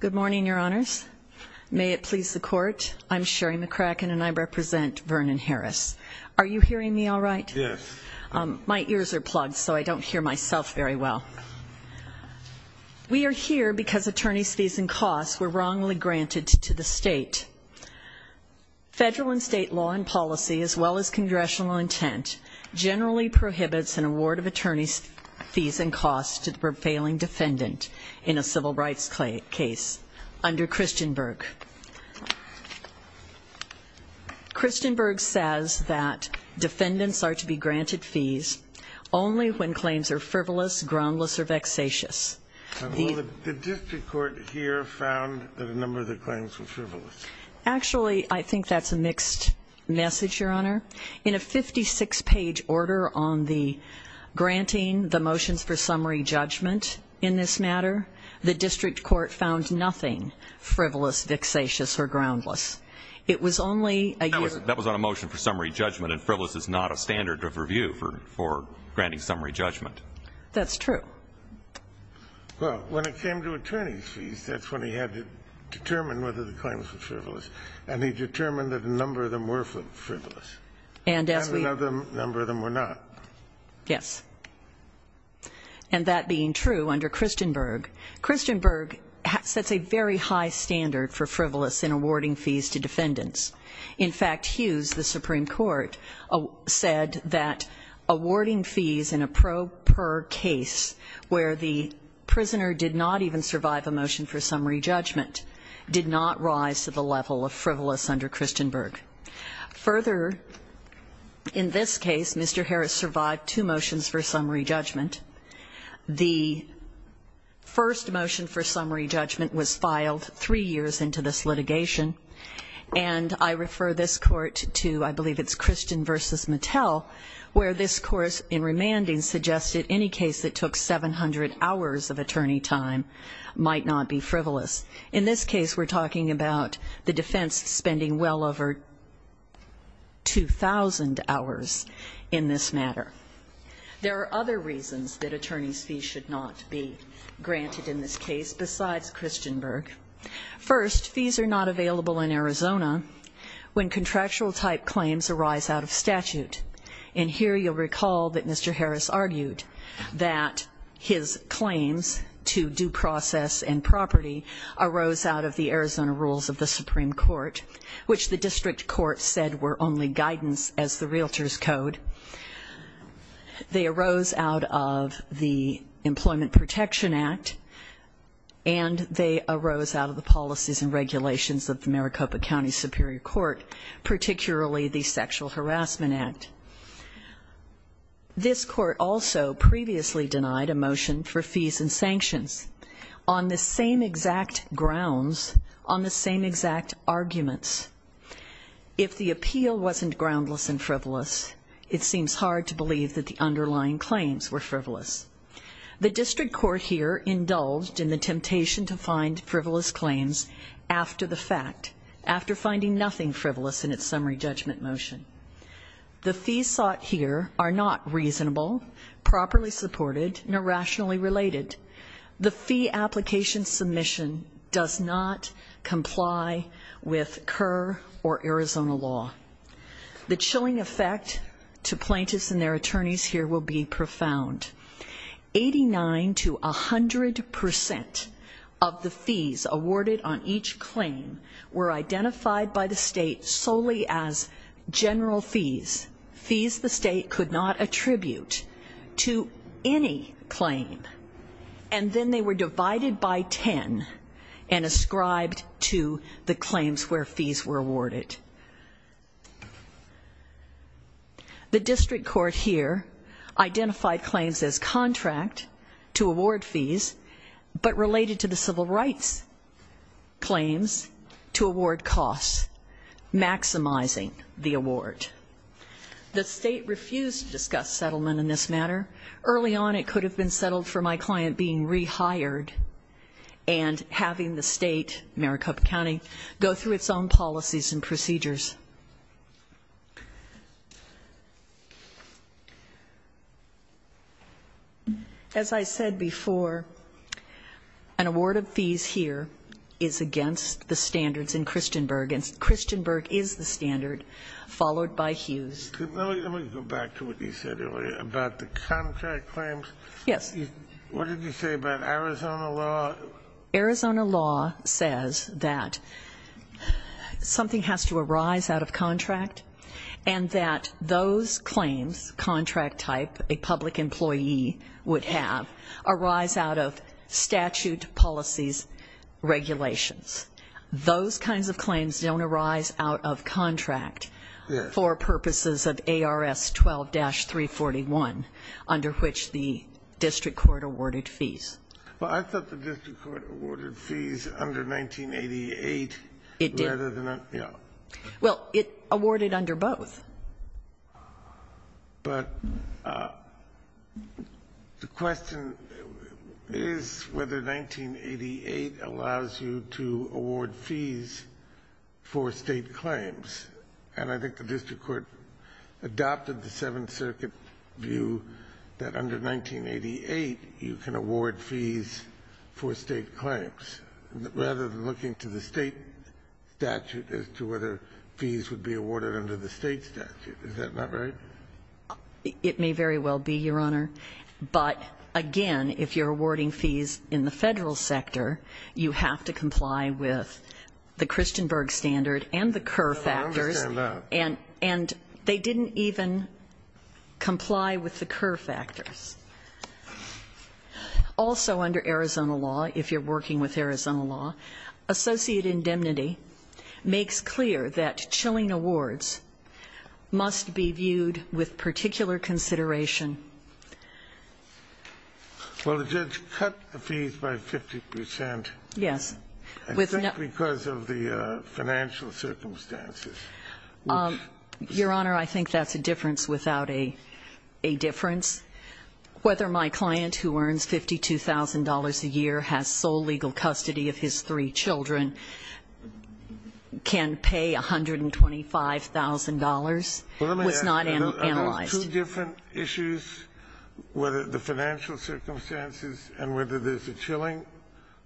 Good morning your honors. May it please the court. I'm Sherry McCracken and I represent Vernon Harris. Are you hearing me all right? Yes. My ears are plugged so I don't hear myself very well. We are here because attorneys fees and costs were wrongly granted to the state. Federal and state law and policy as well as congressional intent generally prohibits an under Christenberg. Christenberg says that defendants are to be granted fees only when claims are frivolous, groundless or vexatious. The district court here found that a number of the claims were frivolous. Actually I think that's a mixed message your honor. In a 56 page order on the motions for summary judgment in this matter, the district court found nothing frivolous, vexatious or groundless. It was only a year. That was on a motion for summary judgment and frivolous is not a standard of review for for granting summary judgment. That's true. Well when it came to attorney's fees that's when he had to determine whether the claims were frivolous and he determined that a number of them were frivolous and as another number of them were yes. And that being true under Christenberg, Christenberg sets a very high standard for frivolous in awarding fees to defendants. In fact Hughes the supreme court said that awarding fees in a pro per case where the prisoner did not even survive a motion for summary judgment did not rise to the level of frivolous under Christenberg. Further in this case Mr. Harris survived two motions for summary judgment. The first motion for summary judgment was filed three years into this litigation and I refer this court to I believe it's Christen versus Mattel where this course in remanding suggested any case that took 700 hours of attorney time might not be frivolous. In this case we're talking about the defense spending well over 2,000 hours in this matter. There are other reasons that attorney's fees should not be granted in this case besides Christenberg. First fees are not available in Arizona when contractual type claims arise out of statute. And here you'll recall that Mr. Harris argued that his claims to due process and property arose out of the Arizona rules of the supreme court which the district court said were only guidance as the realtor's code. They arose out of the employment protection act and they arose out of the policies and regulations of the Maricopa county superior court particularly the sexual harassment act. This court also previously denied a motion for fees and sanctions on the same exact grounds on the same exact arguments. If the appeal wasn't groundless and frivolous it seems hard to believe that the underlying claims were frivolous. The district court here indulged in the temptation to find frivolous claims after the fact after finding nothing frivolous in its summary judgment motion. The fees sought here are not reasonable properly supported and irrationally related. The fee application submission does not comply with Kerr or Arizona law. The chilling effect to plaintiffs and their attorneys here will be profound. 89 to 100 percent of the fees awarded on each claim were identified by the state solely as and then they were divided by 10 and ascribed to the claims where fees were awarded. The district court here identified claims as contract to award fees but related to the civil rights claims to award costs maximizing the award. The state refused to discuss settlement in this matter. Early on it could have been settled for my client being rehired and having the state Maricopa county go through its own policies and procedures. As I said before an award of fees here is against the standards in Christianberg and Christianberg is the standard followed by Hughes. Let me go back to what you said earlier about contract claims. Yes. What did you say about Arizona law? Arizona law says that something has to arise out of contract and that those claims contract type a public employee would have arise out of statute policies regulations. Those kinds of claims don't arise out of contract for purposes of ARS 12-341 under which the district court awarded fees. Well I thought the district court awarded fees under 1988. It did. Well it awarded under both. But the question is whether 1988 allows you to award fees for state claims and I think the district court adopted the seventh circuit view that under 1988 you can award fees for state claims rather than looking to the state statute as to whether fees would be awarded under the state statute. Is that not right? It may very well be, Your Honor, but again if you're awarding fees in the Federal sector you have to comply with the Christianberg standard and the Kerr factors and they didn't even comply with the Kerr factors. Also under Arizona law, if you're working with Arizona law, associate indemnity makes clear that chilling awards must be viewed with particular consideration. Well the judge cut the fees by 50 percent. Yes. I think because of the financial circumstances. Your Honor, I think that's a difference without a difference. Whether my client who earns $52,000 a year has sole legal custody of his three children can pay $125,000 was not analyzed. Two different issues, whether the financial circumstances and whether there's a chilling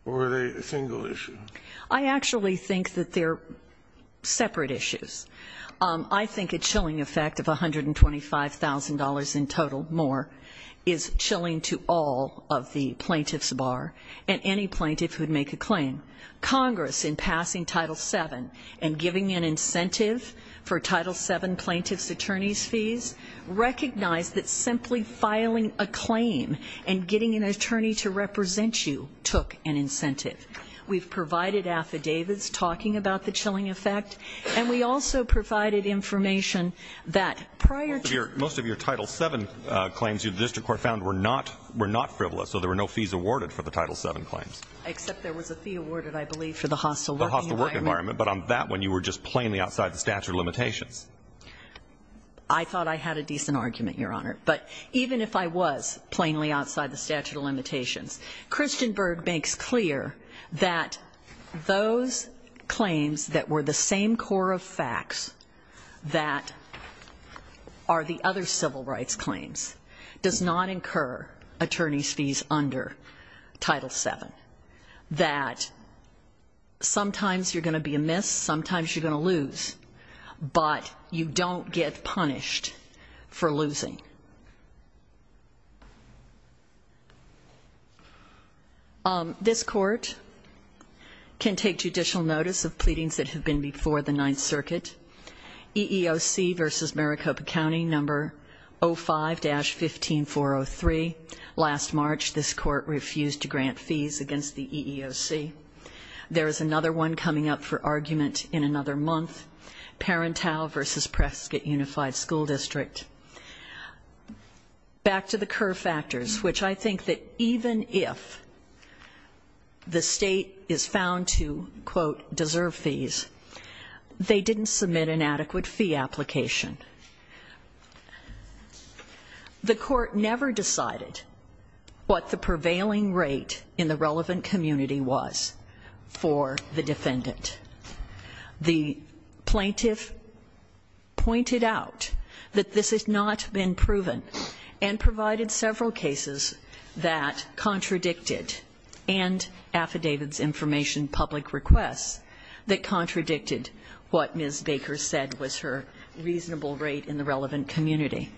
or a single issue. I actually think that they're separate issues. I think a chilling effect of $125,000 in total more is chilling to all of the plaintiffs bar and any plaintiff who'd make a recognize that simply filing a claim and getting an attorney to represent you took an incentive. We've provided affidavits talking about the chilling effect and we also provided information that prior to your most of your title seven claims you the district court found were not were not frivolous so there were no fees awarded for the title seven claims except there was a fee awarded I believe for the hostile hostile work environment but on that one you were just plainly your honor but even if I was plainly outside the statute of limitations Christian Berg makes clear that those claims that were the same core of facts that are the other civil rights claims does not incur attorney's fees under title seven that sometimes you're going to be a miss sometimes you're going to lose but you don't get punished for losing this court can take judicial notice of pleadings that have been before the ninth circuit EEOC versus Maricopa County number 05-15403 last March this court refused to grant fees against the EEOC there is another one coming up for argument in another month Parental versus Prescott Unified School District back to the curve factors which I think that even if the state is found to quote deserve fees they didn't submit an adequate fee application the court never decided what the prevailing rate in the relevant community was for the defendant the plaintiff pointed out that this has not been proven and provided several cases that contradicted and affidavits information public requests that contradicted what Ms. Baker said was her reasonable rate in the relevant community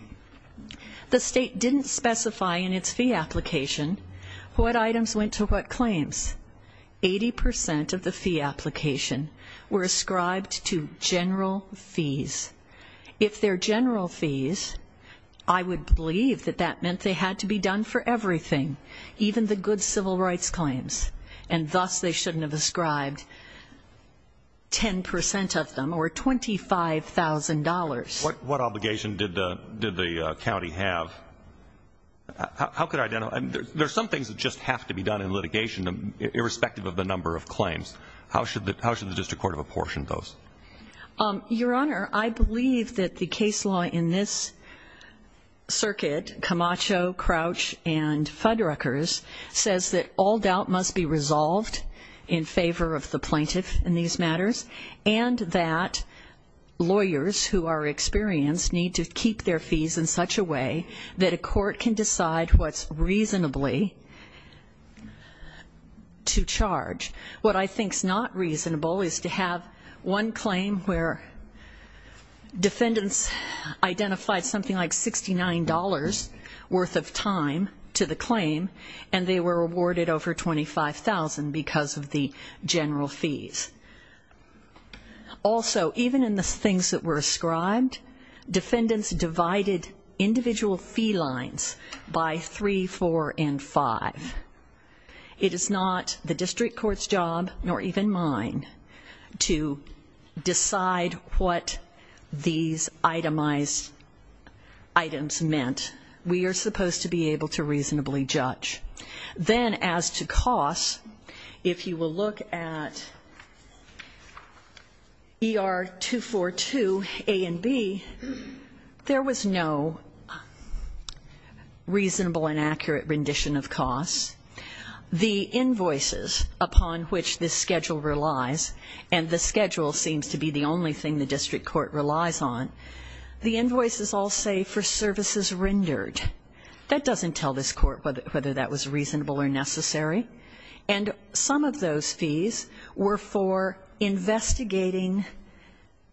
the state didn't specify in its fee application what items went to what claims 80 percent of the fee application were ascribed to general fees if they're general fees I would believe that that meant they had to be done for everything even the good civil rights claims and thus they shouldn't have ascribed 10 percent of them or $25,000 what what obligation did the did the county have how could I know and there's some things that just have to be done in litigation irrespective of the number of claims how should the how should the district court of apportion those your honor I believe that the case law in this circuit Camacho Crouch and Fuddruckers says that all doubt must be resolved in favor of the plaintiff in these matters and that lawyers who are experienced need to keep their fees in such a way that a court can decide what's reasonably to charge what I think is not reasonable is to have one claim where defendants identified something like 69 dollars worth of time to the claim and they were awarded over 25,000 because of the general fees also even in the things that were ascribed defendants divided individual fee lines by three four and five it is not the district court's job nor even mine to decide what these itemized items meant we are supposed to be able to reasonably judge then as to cost if you will look at er 242 a and b there was no reasonable and accurate rendition of costs the invoices upon which this schedule relies and the schedule seems to be the only thing the district court relies on the invoices all say for services rendered that doesn't tell this court whether that was reasonable or necessary and some of those fees were for investigating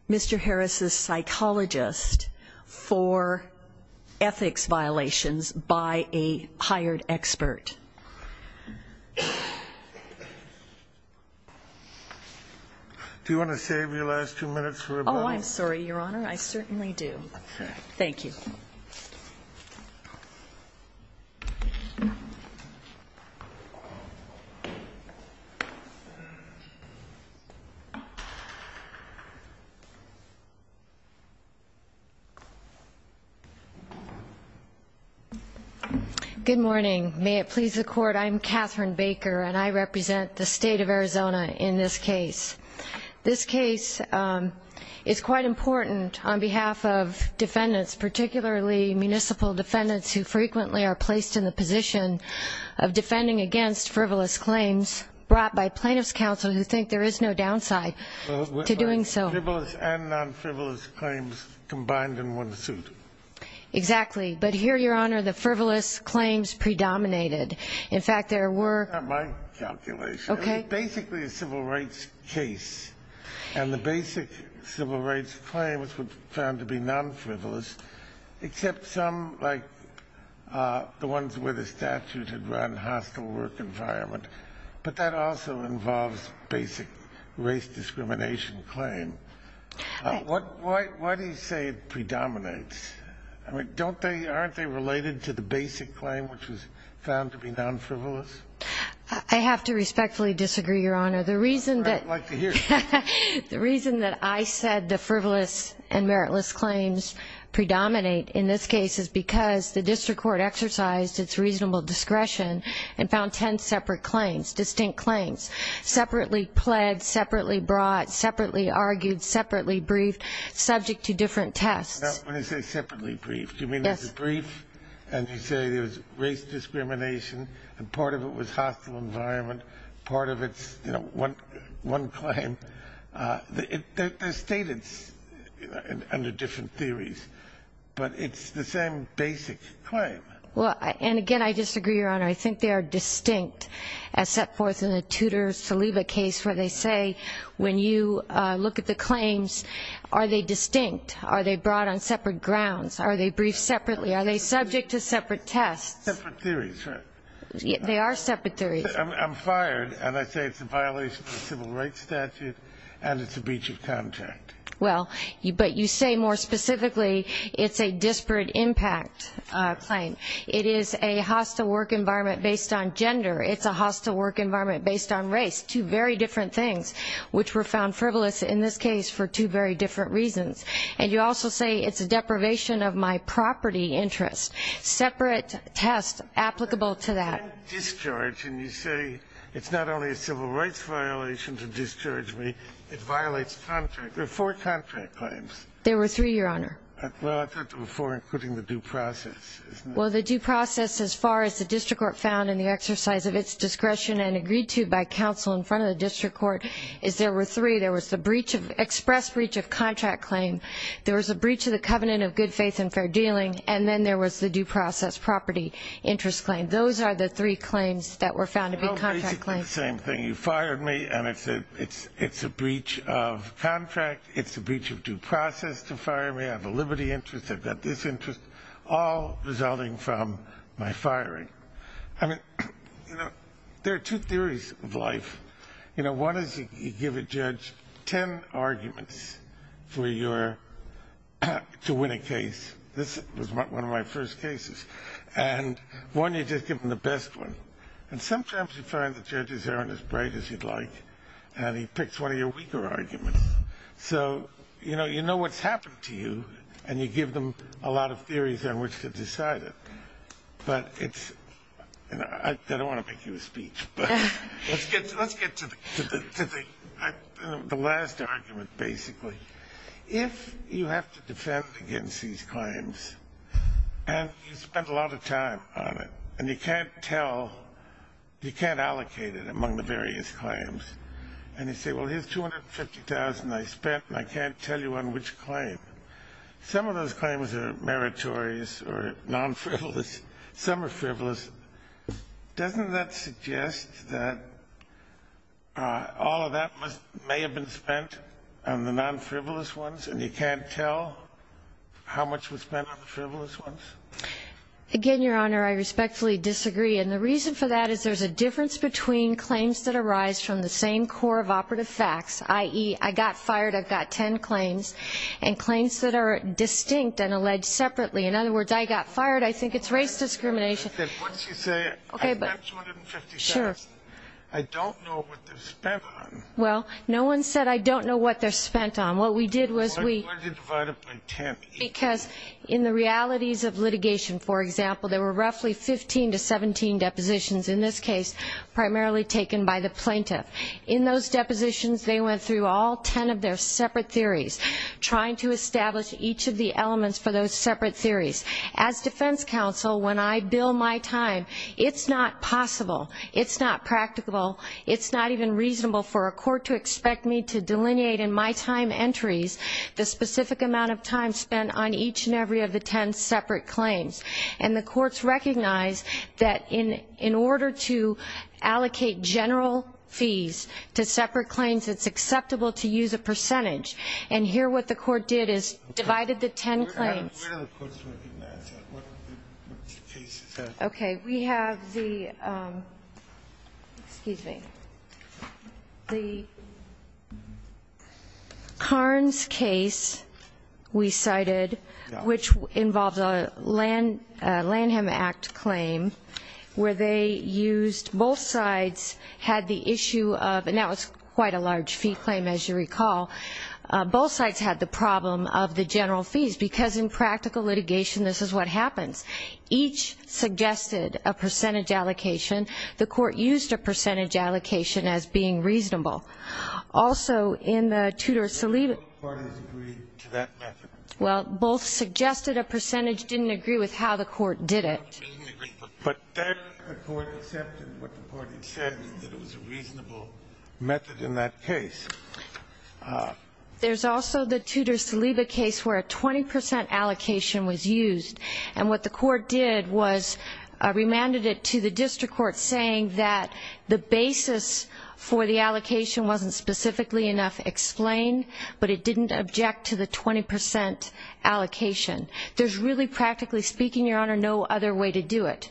mr harris's psychologist for ethics violations by a do you want to save your last two minutes oh i'm sorry your honor i certainly do okay thank you good morning may it please the court i'm katherine baker and i represent the state of arizona in this case this case is quite important on behalf of defendants particularly municipal defendants who frequently are placed in the position of defending against frivolous claims brought by plaintiffs counsel who think there is no downside to doing so frivolous and non-frivolous claims combined in one suit exactly but here your honor the frivolous claims predominated in fact there were my calculation okay basically a civil rights case and the basic civil rights claim was found to be non-frivolous except some like uh the ones where the statute had run hostile work environment but that also involves basic race discrimination claim what why why do you say it predominates i mean don't they aren't they related to the basic claim which was found to be non-frivolous i have to respectfully disagree your honor the reason that the reason that i said the frivolous and meritless claims predominate in this case is because the district court exercised its reasonable discretion and found 10 separate claims distinct claims separately pled separately brought separately argued separately briefed subject to different tests when i say separately briefed you mean there's a brief and you say there's race discrimination and part of it was hostile environment part of it's you know one one claim uh they're stated under different theories but it's the same basic claim well and again i disagree your honor i think they are distinct as set forth in the tutor saliva case where they say when you uh look at the claims are they distinct are they brought on separate grounds are they briefed separately are they subject to separate tests theories they are separate theories i'm fired and i say it's a violation of civil rights statute and it's a breach of contract well but you say more specifically it's a disparate impact uh claim it is a hostile work environment based on gender it's a hostile work environment based on race two very different things which were found frivolous in this case for two very different reasons and you also say it's a deprivation of my property interest separate tests applicable to that discharge and you say it's not only a civil rights violation to discharge me it violates contract there are four contract claims there were three your honor well i thought there were four including the due process well the due process as far as the district court found in the exercise of its discretion and agreed to by counsel in front of the district court is there were three there was the breach of express breach of contract claim there was a breach of the covenant of good faith and fair dealing and then there was the due process property interest claim those are the three claims that were found to be contract claims the same thing you fired me and i said it's it's a breach of contract it's a breach of due process to fire me i have a liberty interest i've got this interest all resulting from my firing i mean you know there are two theories of life you know one is you give a judge 10 arguments for your to win a case this was one of my first cases and one you just give them the best one and sometimes you find the judges aren't as bright as you'd like and he picks one of your weaker arguments so you know you know what's happened to you and you give them a lot of theories on which to decide it but it's you know i don't get to the to the to the last argument basically if you have to defend against these claims and you spent a lot of time on it and you can't tell you can't allocate it among the various claims and you say well here's 250 000 i spent and i can't tell you on which claim some of those claims are meritorious or non-frivolous some are frivolous doesn't that suggest that all of that must may have been spent on the non-frivolous ones and you can't tell how much was spent on the frivolous ones again your honor i respectfully disagree and the reason for that is there's a difference between claims that arise from the same core of operative facts i.e i got fired i've got 10 claims and claims that are distinct and alleged separately in other words i got fired i think it's race discrimination what does he say okay sure i don't know what they're spent on well no one said i don't know what they're spent on what we did was we divided by 10 because in the realities of litigation for example there were roughly 15 to 17 depositions in this case primarily taken by the plaintiff in those depositions they went through all 10 of those separate theories as defense counsel when i bill my time it's not possible it's not practicable it's not even reasonable for a court to expect me to delineate in my time entries the specific amount of time spent on each and every of the 10 separate claims and the courts recognize that in in order to allocate general fees to separate claims it's acceptable to use a percentage and here what the court did is divided the 10 claims okay we have the excuse me the karn's case we cited which involves a land lanham act claim where they used both sides had the issue of and that was quite a large fee claim as you recall both sides had the problem of the general fees because in practical litigation this is what happens each suggested a percentage allocation the court used a percentage allocation as being reasonable also in the tutors to leave parties agreed to that method well both suggested a reasonable method in that case there's also the tutors to leave a case where a 20 allocation was used and what the court did was remanded it to the district court saying that the basis for the allocation wasn't specifically enough explained but it didn't object to the 20 allocation there's really practically speaking your honor no other way to do it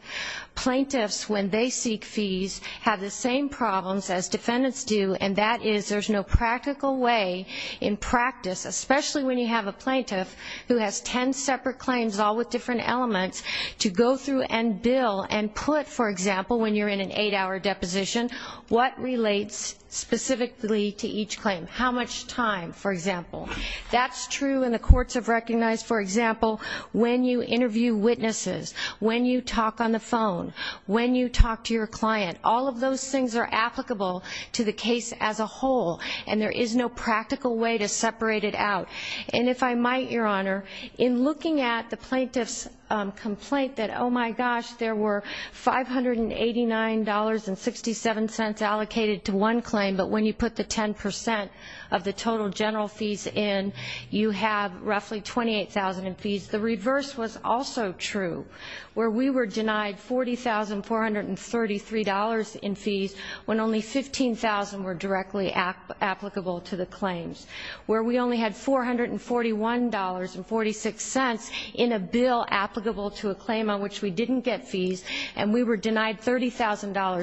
plaintiffs when they seek fees have the same problems as defendants do and that is there's no practical way in practice especially when you have a plaintiff who has 10 separate claims all with different elements to go through and bill and put for example when you're in an eight-hour deposition what relates specifically to each claim how much time for example that's true and the courts have recognized for example when you interview witnesses when you talk on the phone when you talk to your client all of those things are applicable to the case as a whole and there is no practical way to separate it out and if i might your honor in looking at the plaintiff's complaint that oh my gosh there were 589 dollars and 67 cents allocated to one claim but when you put the 10 percent of the total general fees in you have roughly 28 000 in fees the reverse was also true where we were denied 40 433 dollars in fees when only 15 000 were directly applicable to the claims where we only had 441 dollars and 46 cents in a bill applicable to a claim on which we didn't get fees and we were denied 30 000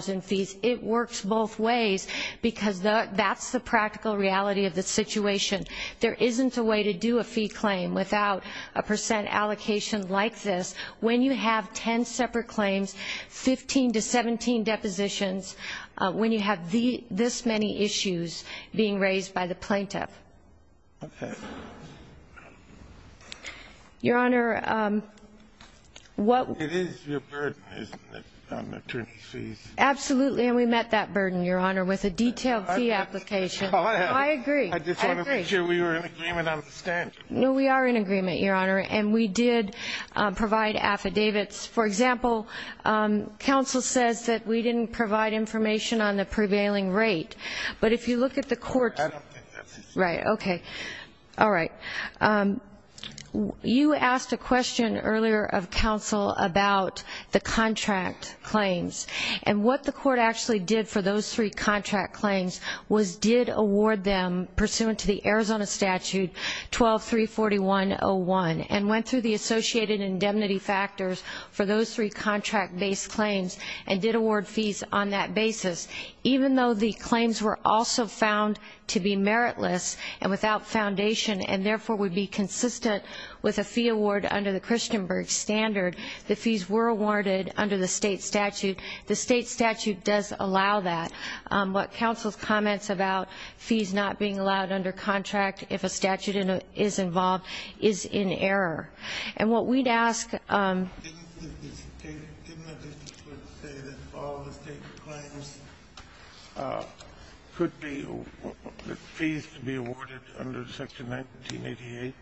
in fees it works both ways because that's the practical reality of the situation there isn't a way to do a fee claim without a percent allocation like this when you have 10 separate claims 15 to 17 depositions when you have the this many issues being raised by the plaintiff okay your honor um what it is your burden isn't it on attorney's fees absolutely and we met that burden your honor with a detailed fee application i agree i just want to make sure we are in agreement understand no we are in agreement your honor and we did provide affidavits for example um council says that we didn't provide information on the prevailing rate but if you look at the court right okay all right um you asked a question earlier of council about the contract claims and what the court actually did for those three contract claims was did award them pursuant to the arizona statute 12 341 01 and went through the associated indemnity factors for those three contract based claims and did award fees on that basis even though the claims were also found to be meritless and without foundation and therefore would be consistent with a fee award under the christianberg standard the fees were awarded under the state statute the council's comments about fees not being allowed under contract if a statute is involved is in error and what we'd ask um didn't the court say that all the state claims could be fees to be awarded under section 1988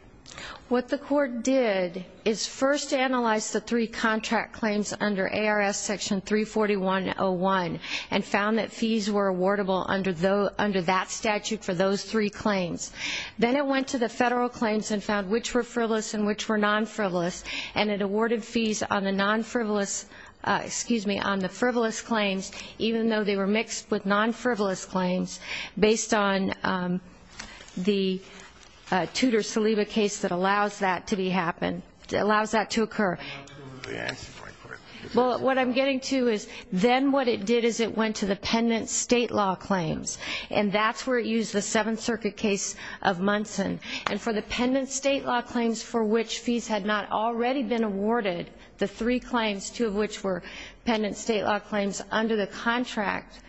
what the court did is first analyze the three under that statute for those three claims then it went to the federal claims and found which were frivolous and which were non-frivolous and it awarded fees on the non-frivolous excuse me on the frivolous claims even though they were mixed with non-frivolous claims based on the tutor saliva case that allows that to be happen allows that to occur yes well what i'm getting to is then what it did is it went to the pendant state law claims and that's where it used the seventh circuit case of munson and for the pendant state law claims for which fees had not already been awarded the three claims two of which were pendant state law claims under the contract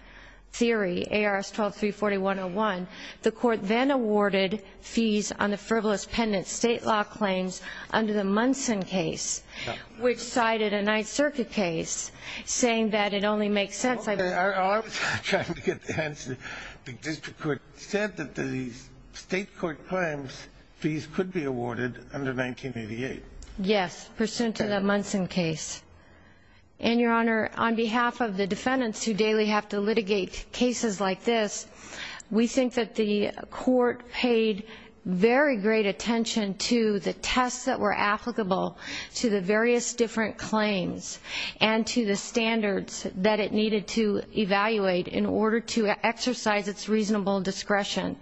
theory ars 12 340 101 the court then awarded fees on the frivolous pendant state law claims under the munson case which cited a ninth circuit case saying that it only makes sense i was trying to get the answer the district court said that these state court claims fees could be awarded under 1988 yes pursuant to the munson case and your honor on behalf of the defendants who daily have to litigate cases like this we think that the court paid very great attention to the tests that were applicable to the various different claims and to the standards that it needed to evaluate in order to exercise its reasonable discretion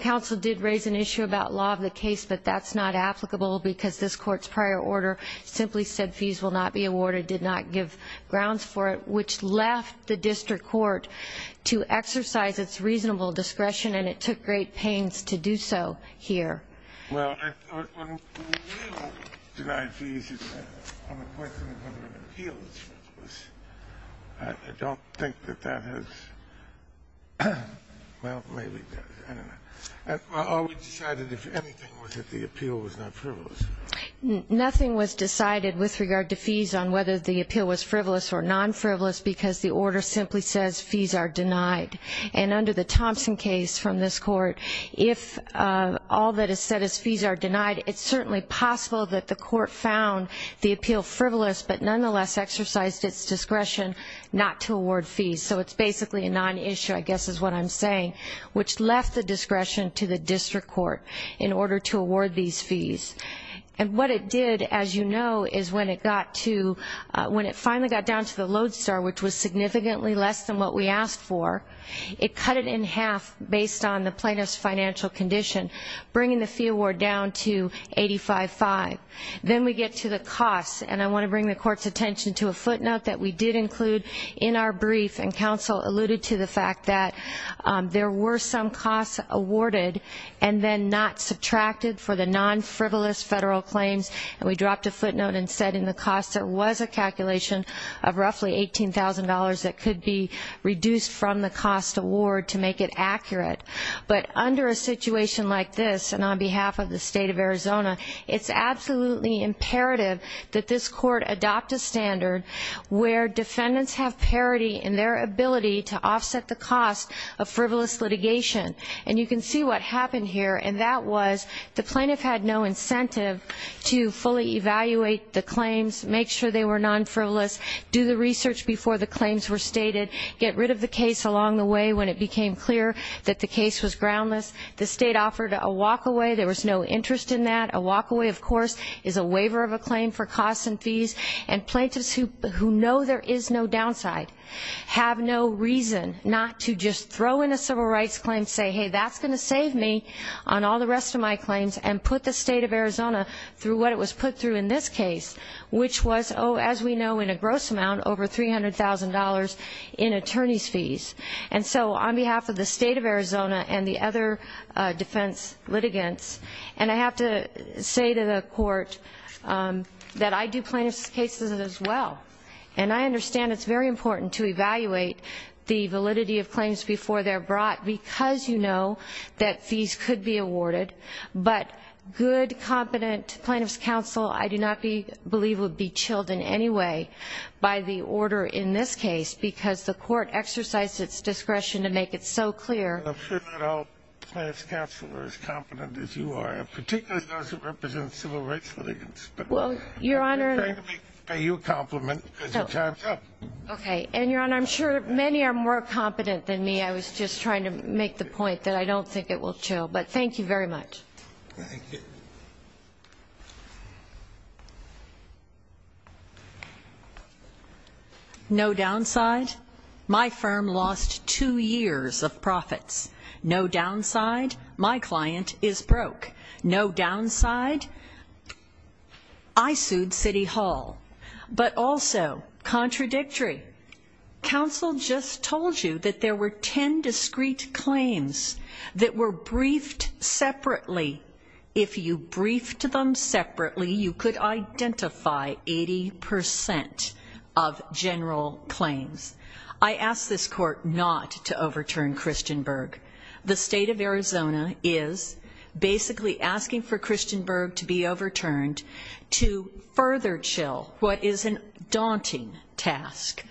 council did raise an issue about law of the case but that's not applicable because this court's prior order simply said fees will not be awarded did not give grounds for it which left the district court to exercise its reasonable discretion and it took great pains to do so here well i thought when we don't deny fees on the question of whether an appeal is frivolous i don't think that that has well maybe that's why i always decided if anything was that the appeal was not frivolous nothing was decided with regard to fees on whether the appeal was frivolous or non-frivolous because the order simply says fees are denied and under the thompson case from this court if uh all that is said as fees are denied it's certainly possible that the court found the appeal frivolous but nonetheless exercised its discretion not to award fees so it's basically a non-issue i guess is what i'm saying which left the discretion to the district court in order to award these fees and what it did as you know is when it got to when it finally got down to the load star which was significantly less than what we asked for it cut it in half based on the plaintiff's financial condition bringing the fee award down to 85-5 then we get to the costs and i want to bring the court's attention to a footnote that we did include in our brief and counsel alluded to the fact that there were some costs awarded and then not subtracted for the non-frivolous federal claims and we dropped a footnote and said in the cost there was a calculation of roughly eighteen thousand dollars that could be reduced from the cost award to make it accurate but under a situation like this and on behalf of the state of arizona it's absolutely imperative that this court adopt a standard where defendants have parity in their ability to offset the cost of frivolous litigation and you can see what happened here and that was the plaintiff had no incentive to fully evaluate the claims make sure they were non-frivolous do the research before the claims were stated get rid of the case along the way when it became clear that the case was groundless the state offered a walk away there was no interest in that a walk away of course is a waiver of a claim for costs and fees and plaintiffs who who know there is no downside have no reason not to just throw in a civil rights claim say hey that's going to save me on all the rest of my claims and put the state of arizona through what it was put through in this case which was oh as we know in a gross amount over three hundred thousand dollars in attorney's fees and so on behalf of the state of arizona and the other defense litigants and i have to say to the court that i do plaintiff's cases as well and i understand it's very important to evaluate the validity of claims before they're brought because you know that fees could be awarded but good competent plaintiff's counsel i do not be believe would be chilled in any way by the order in this case because the court exercised its discretion to make it so clear plaintiff's counsel are as competent as you are particularly those who represent civil rights well your honor okay and your honor i'm sure many are more competent than me i was just trying to make the point that i don't think it will chill but thank you very much no downside my firm lost two years of profits no downside my client is broke no downside i sued city hall but also contradictory council just told you that there were 10 discrete claims that were briefed separately if you briefed them separately you could identify 80 percent of general claims i asked this court not to overturn christianberg the state of arizona is basically asking for christianberg to be overturned to further chill what is an daunting task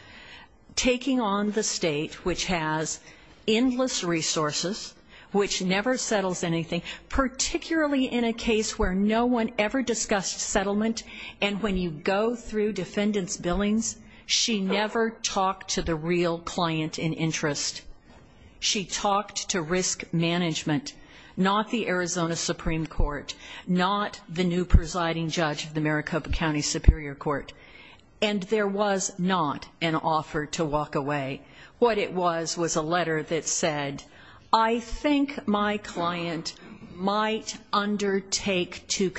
taking on the state which has endless resources which never settles anything particularly in a case where no one ever discussed settlement and when you go through defendant's billings she never talked to the real client in interest she talked to risk management not the arizona supreme court not the new presiding judge of the maricopa county superior court and there was not an offer to walk away what it was was a letter that said i think my client might undertake to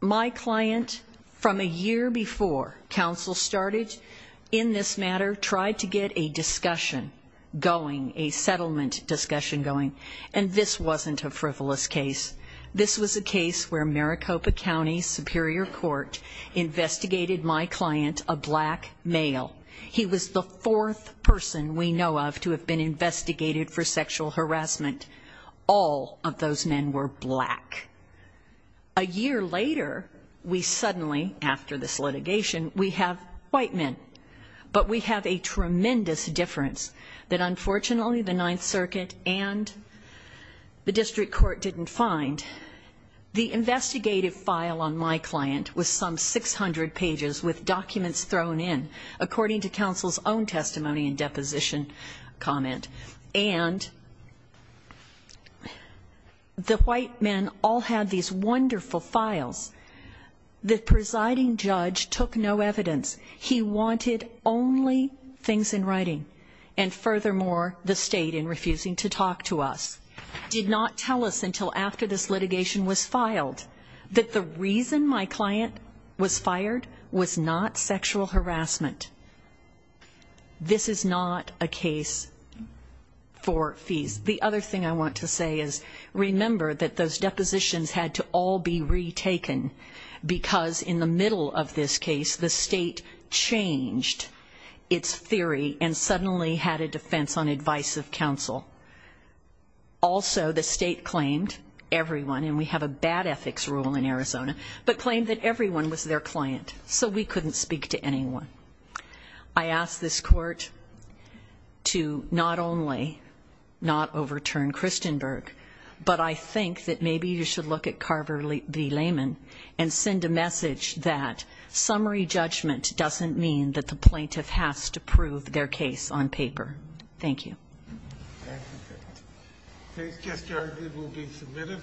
my client from a year before council started in this matter tried to get a discussion going a settlement discussion going and this wasn't a frivolous case this was a case where maricopa county superior court investigated my client a black male he was the fourth person we know of to have been investigated for sexual harassment all of those men were black a year later we suddenly after this litigation we have white men but we have a tremendous difference that unfortunately the ninth circuit and the district court didn't find the investigative file on my client was some 600 pages with documents thrown in according to council's own testimony and comment and the white men all had these wonderful files the presiding judge took no evidence he wanted only things in writing and furthermore the state in refusing to talk to us did not tell us until after this litigation was filed that the reason my client was fired was not sexual harassment this is not a case for fees the other thing i want to say is remember that those depositions had to all be retaken because in the middle of this case the state changed its theory and suddenly had a defense on advice of council also the state claimed everyone and we have a bad ethics rule in arizona but claimed that everyone was their client so we couldn't speak to anyone i ask this court to not only not overturn christianberg but i think that maybe you should look at carver v layman and send a message that summary judgment doesn't mean that the plaintiff has to prove their case on paper thank you please just argue we'll be submitted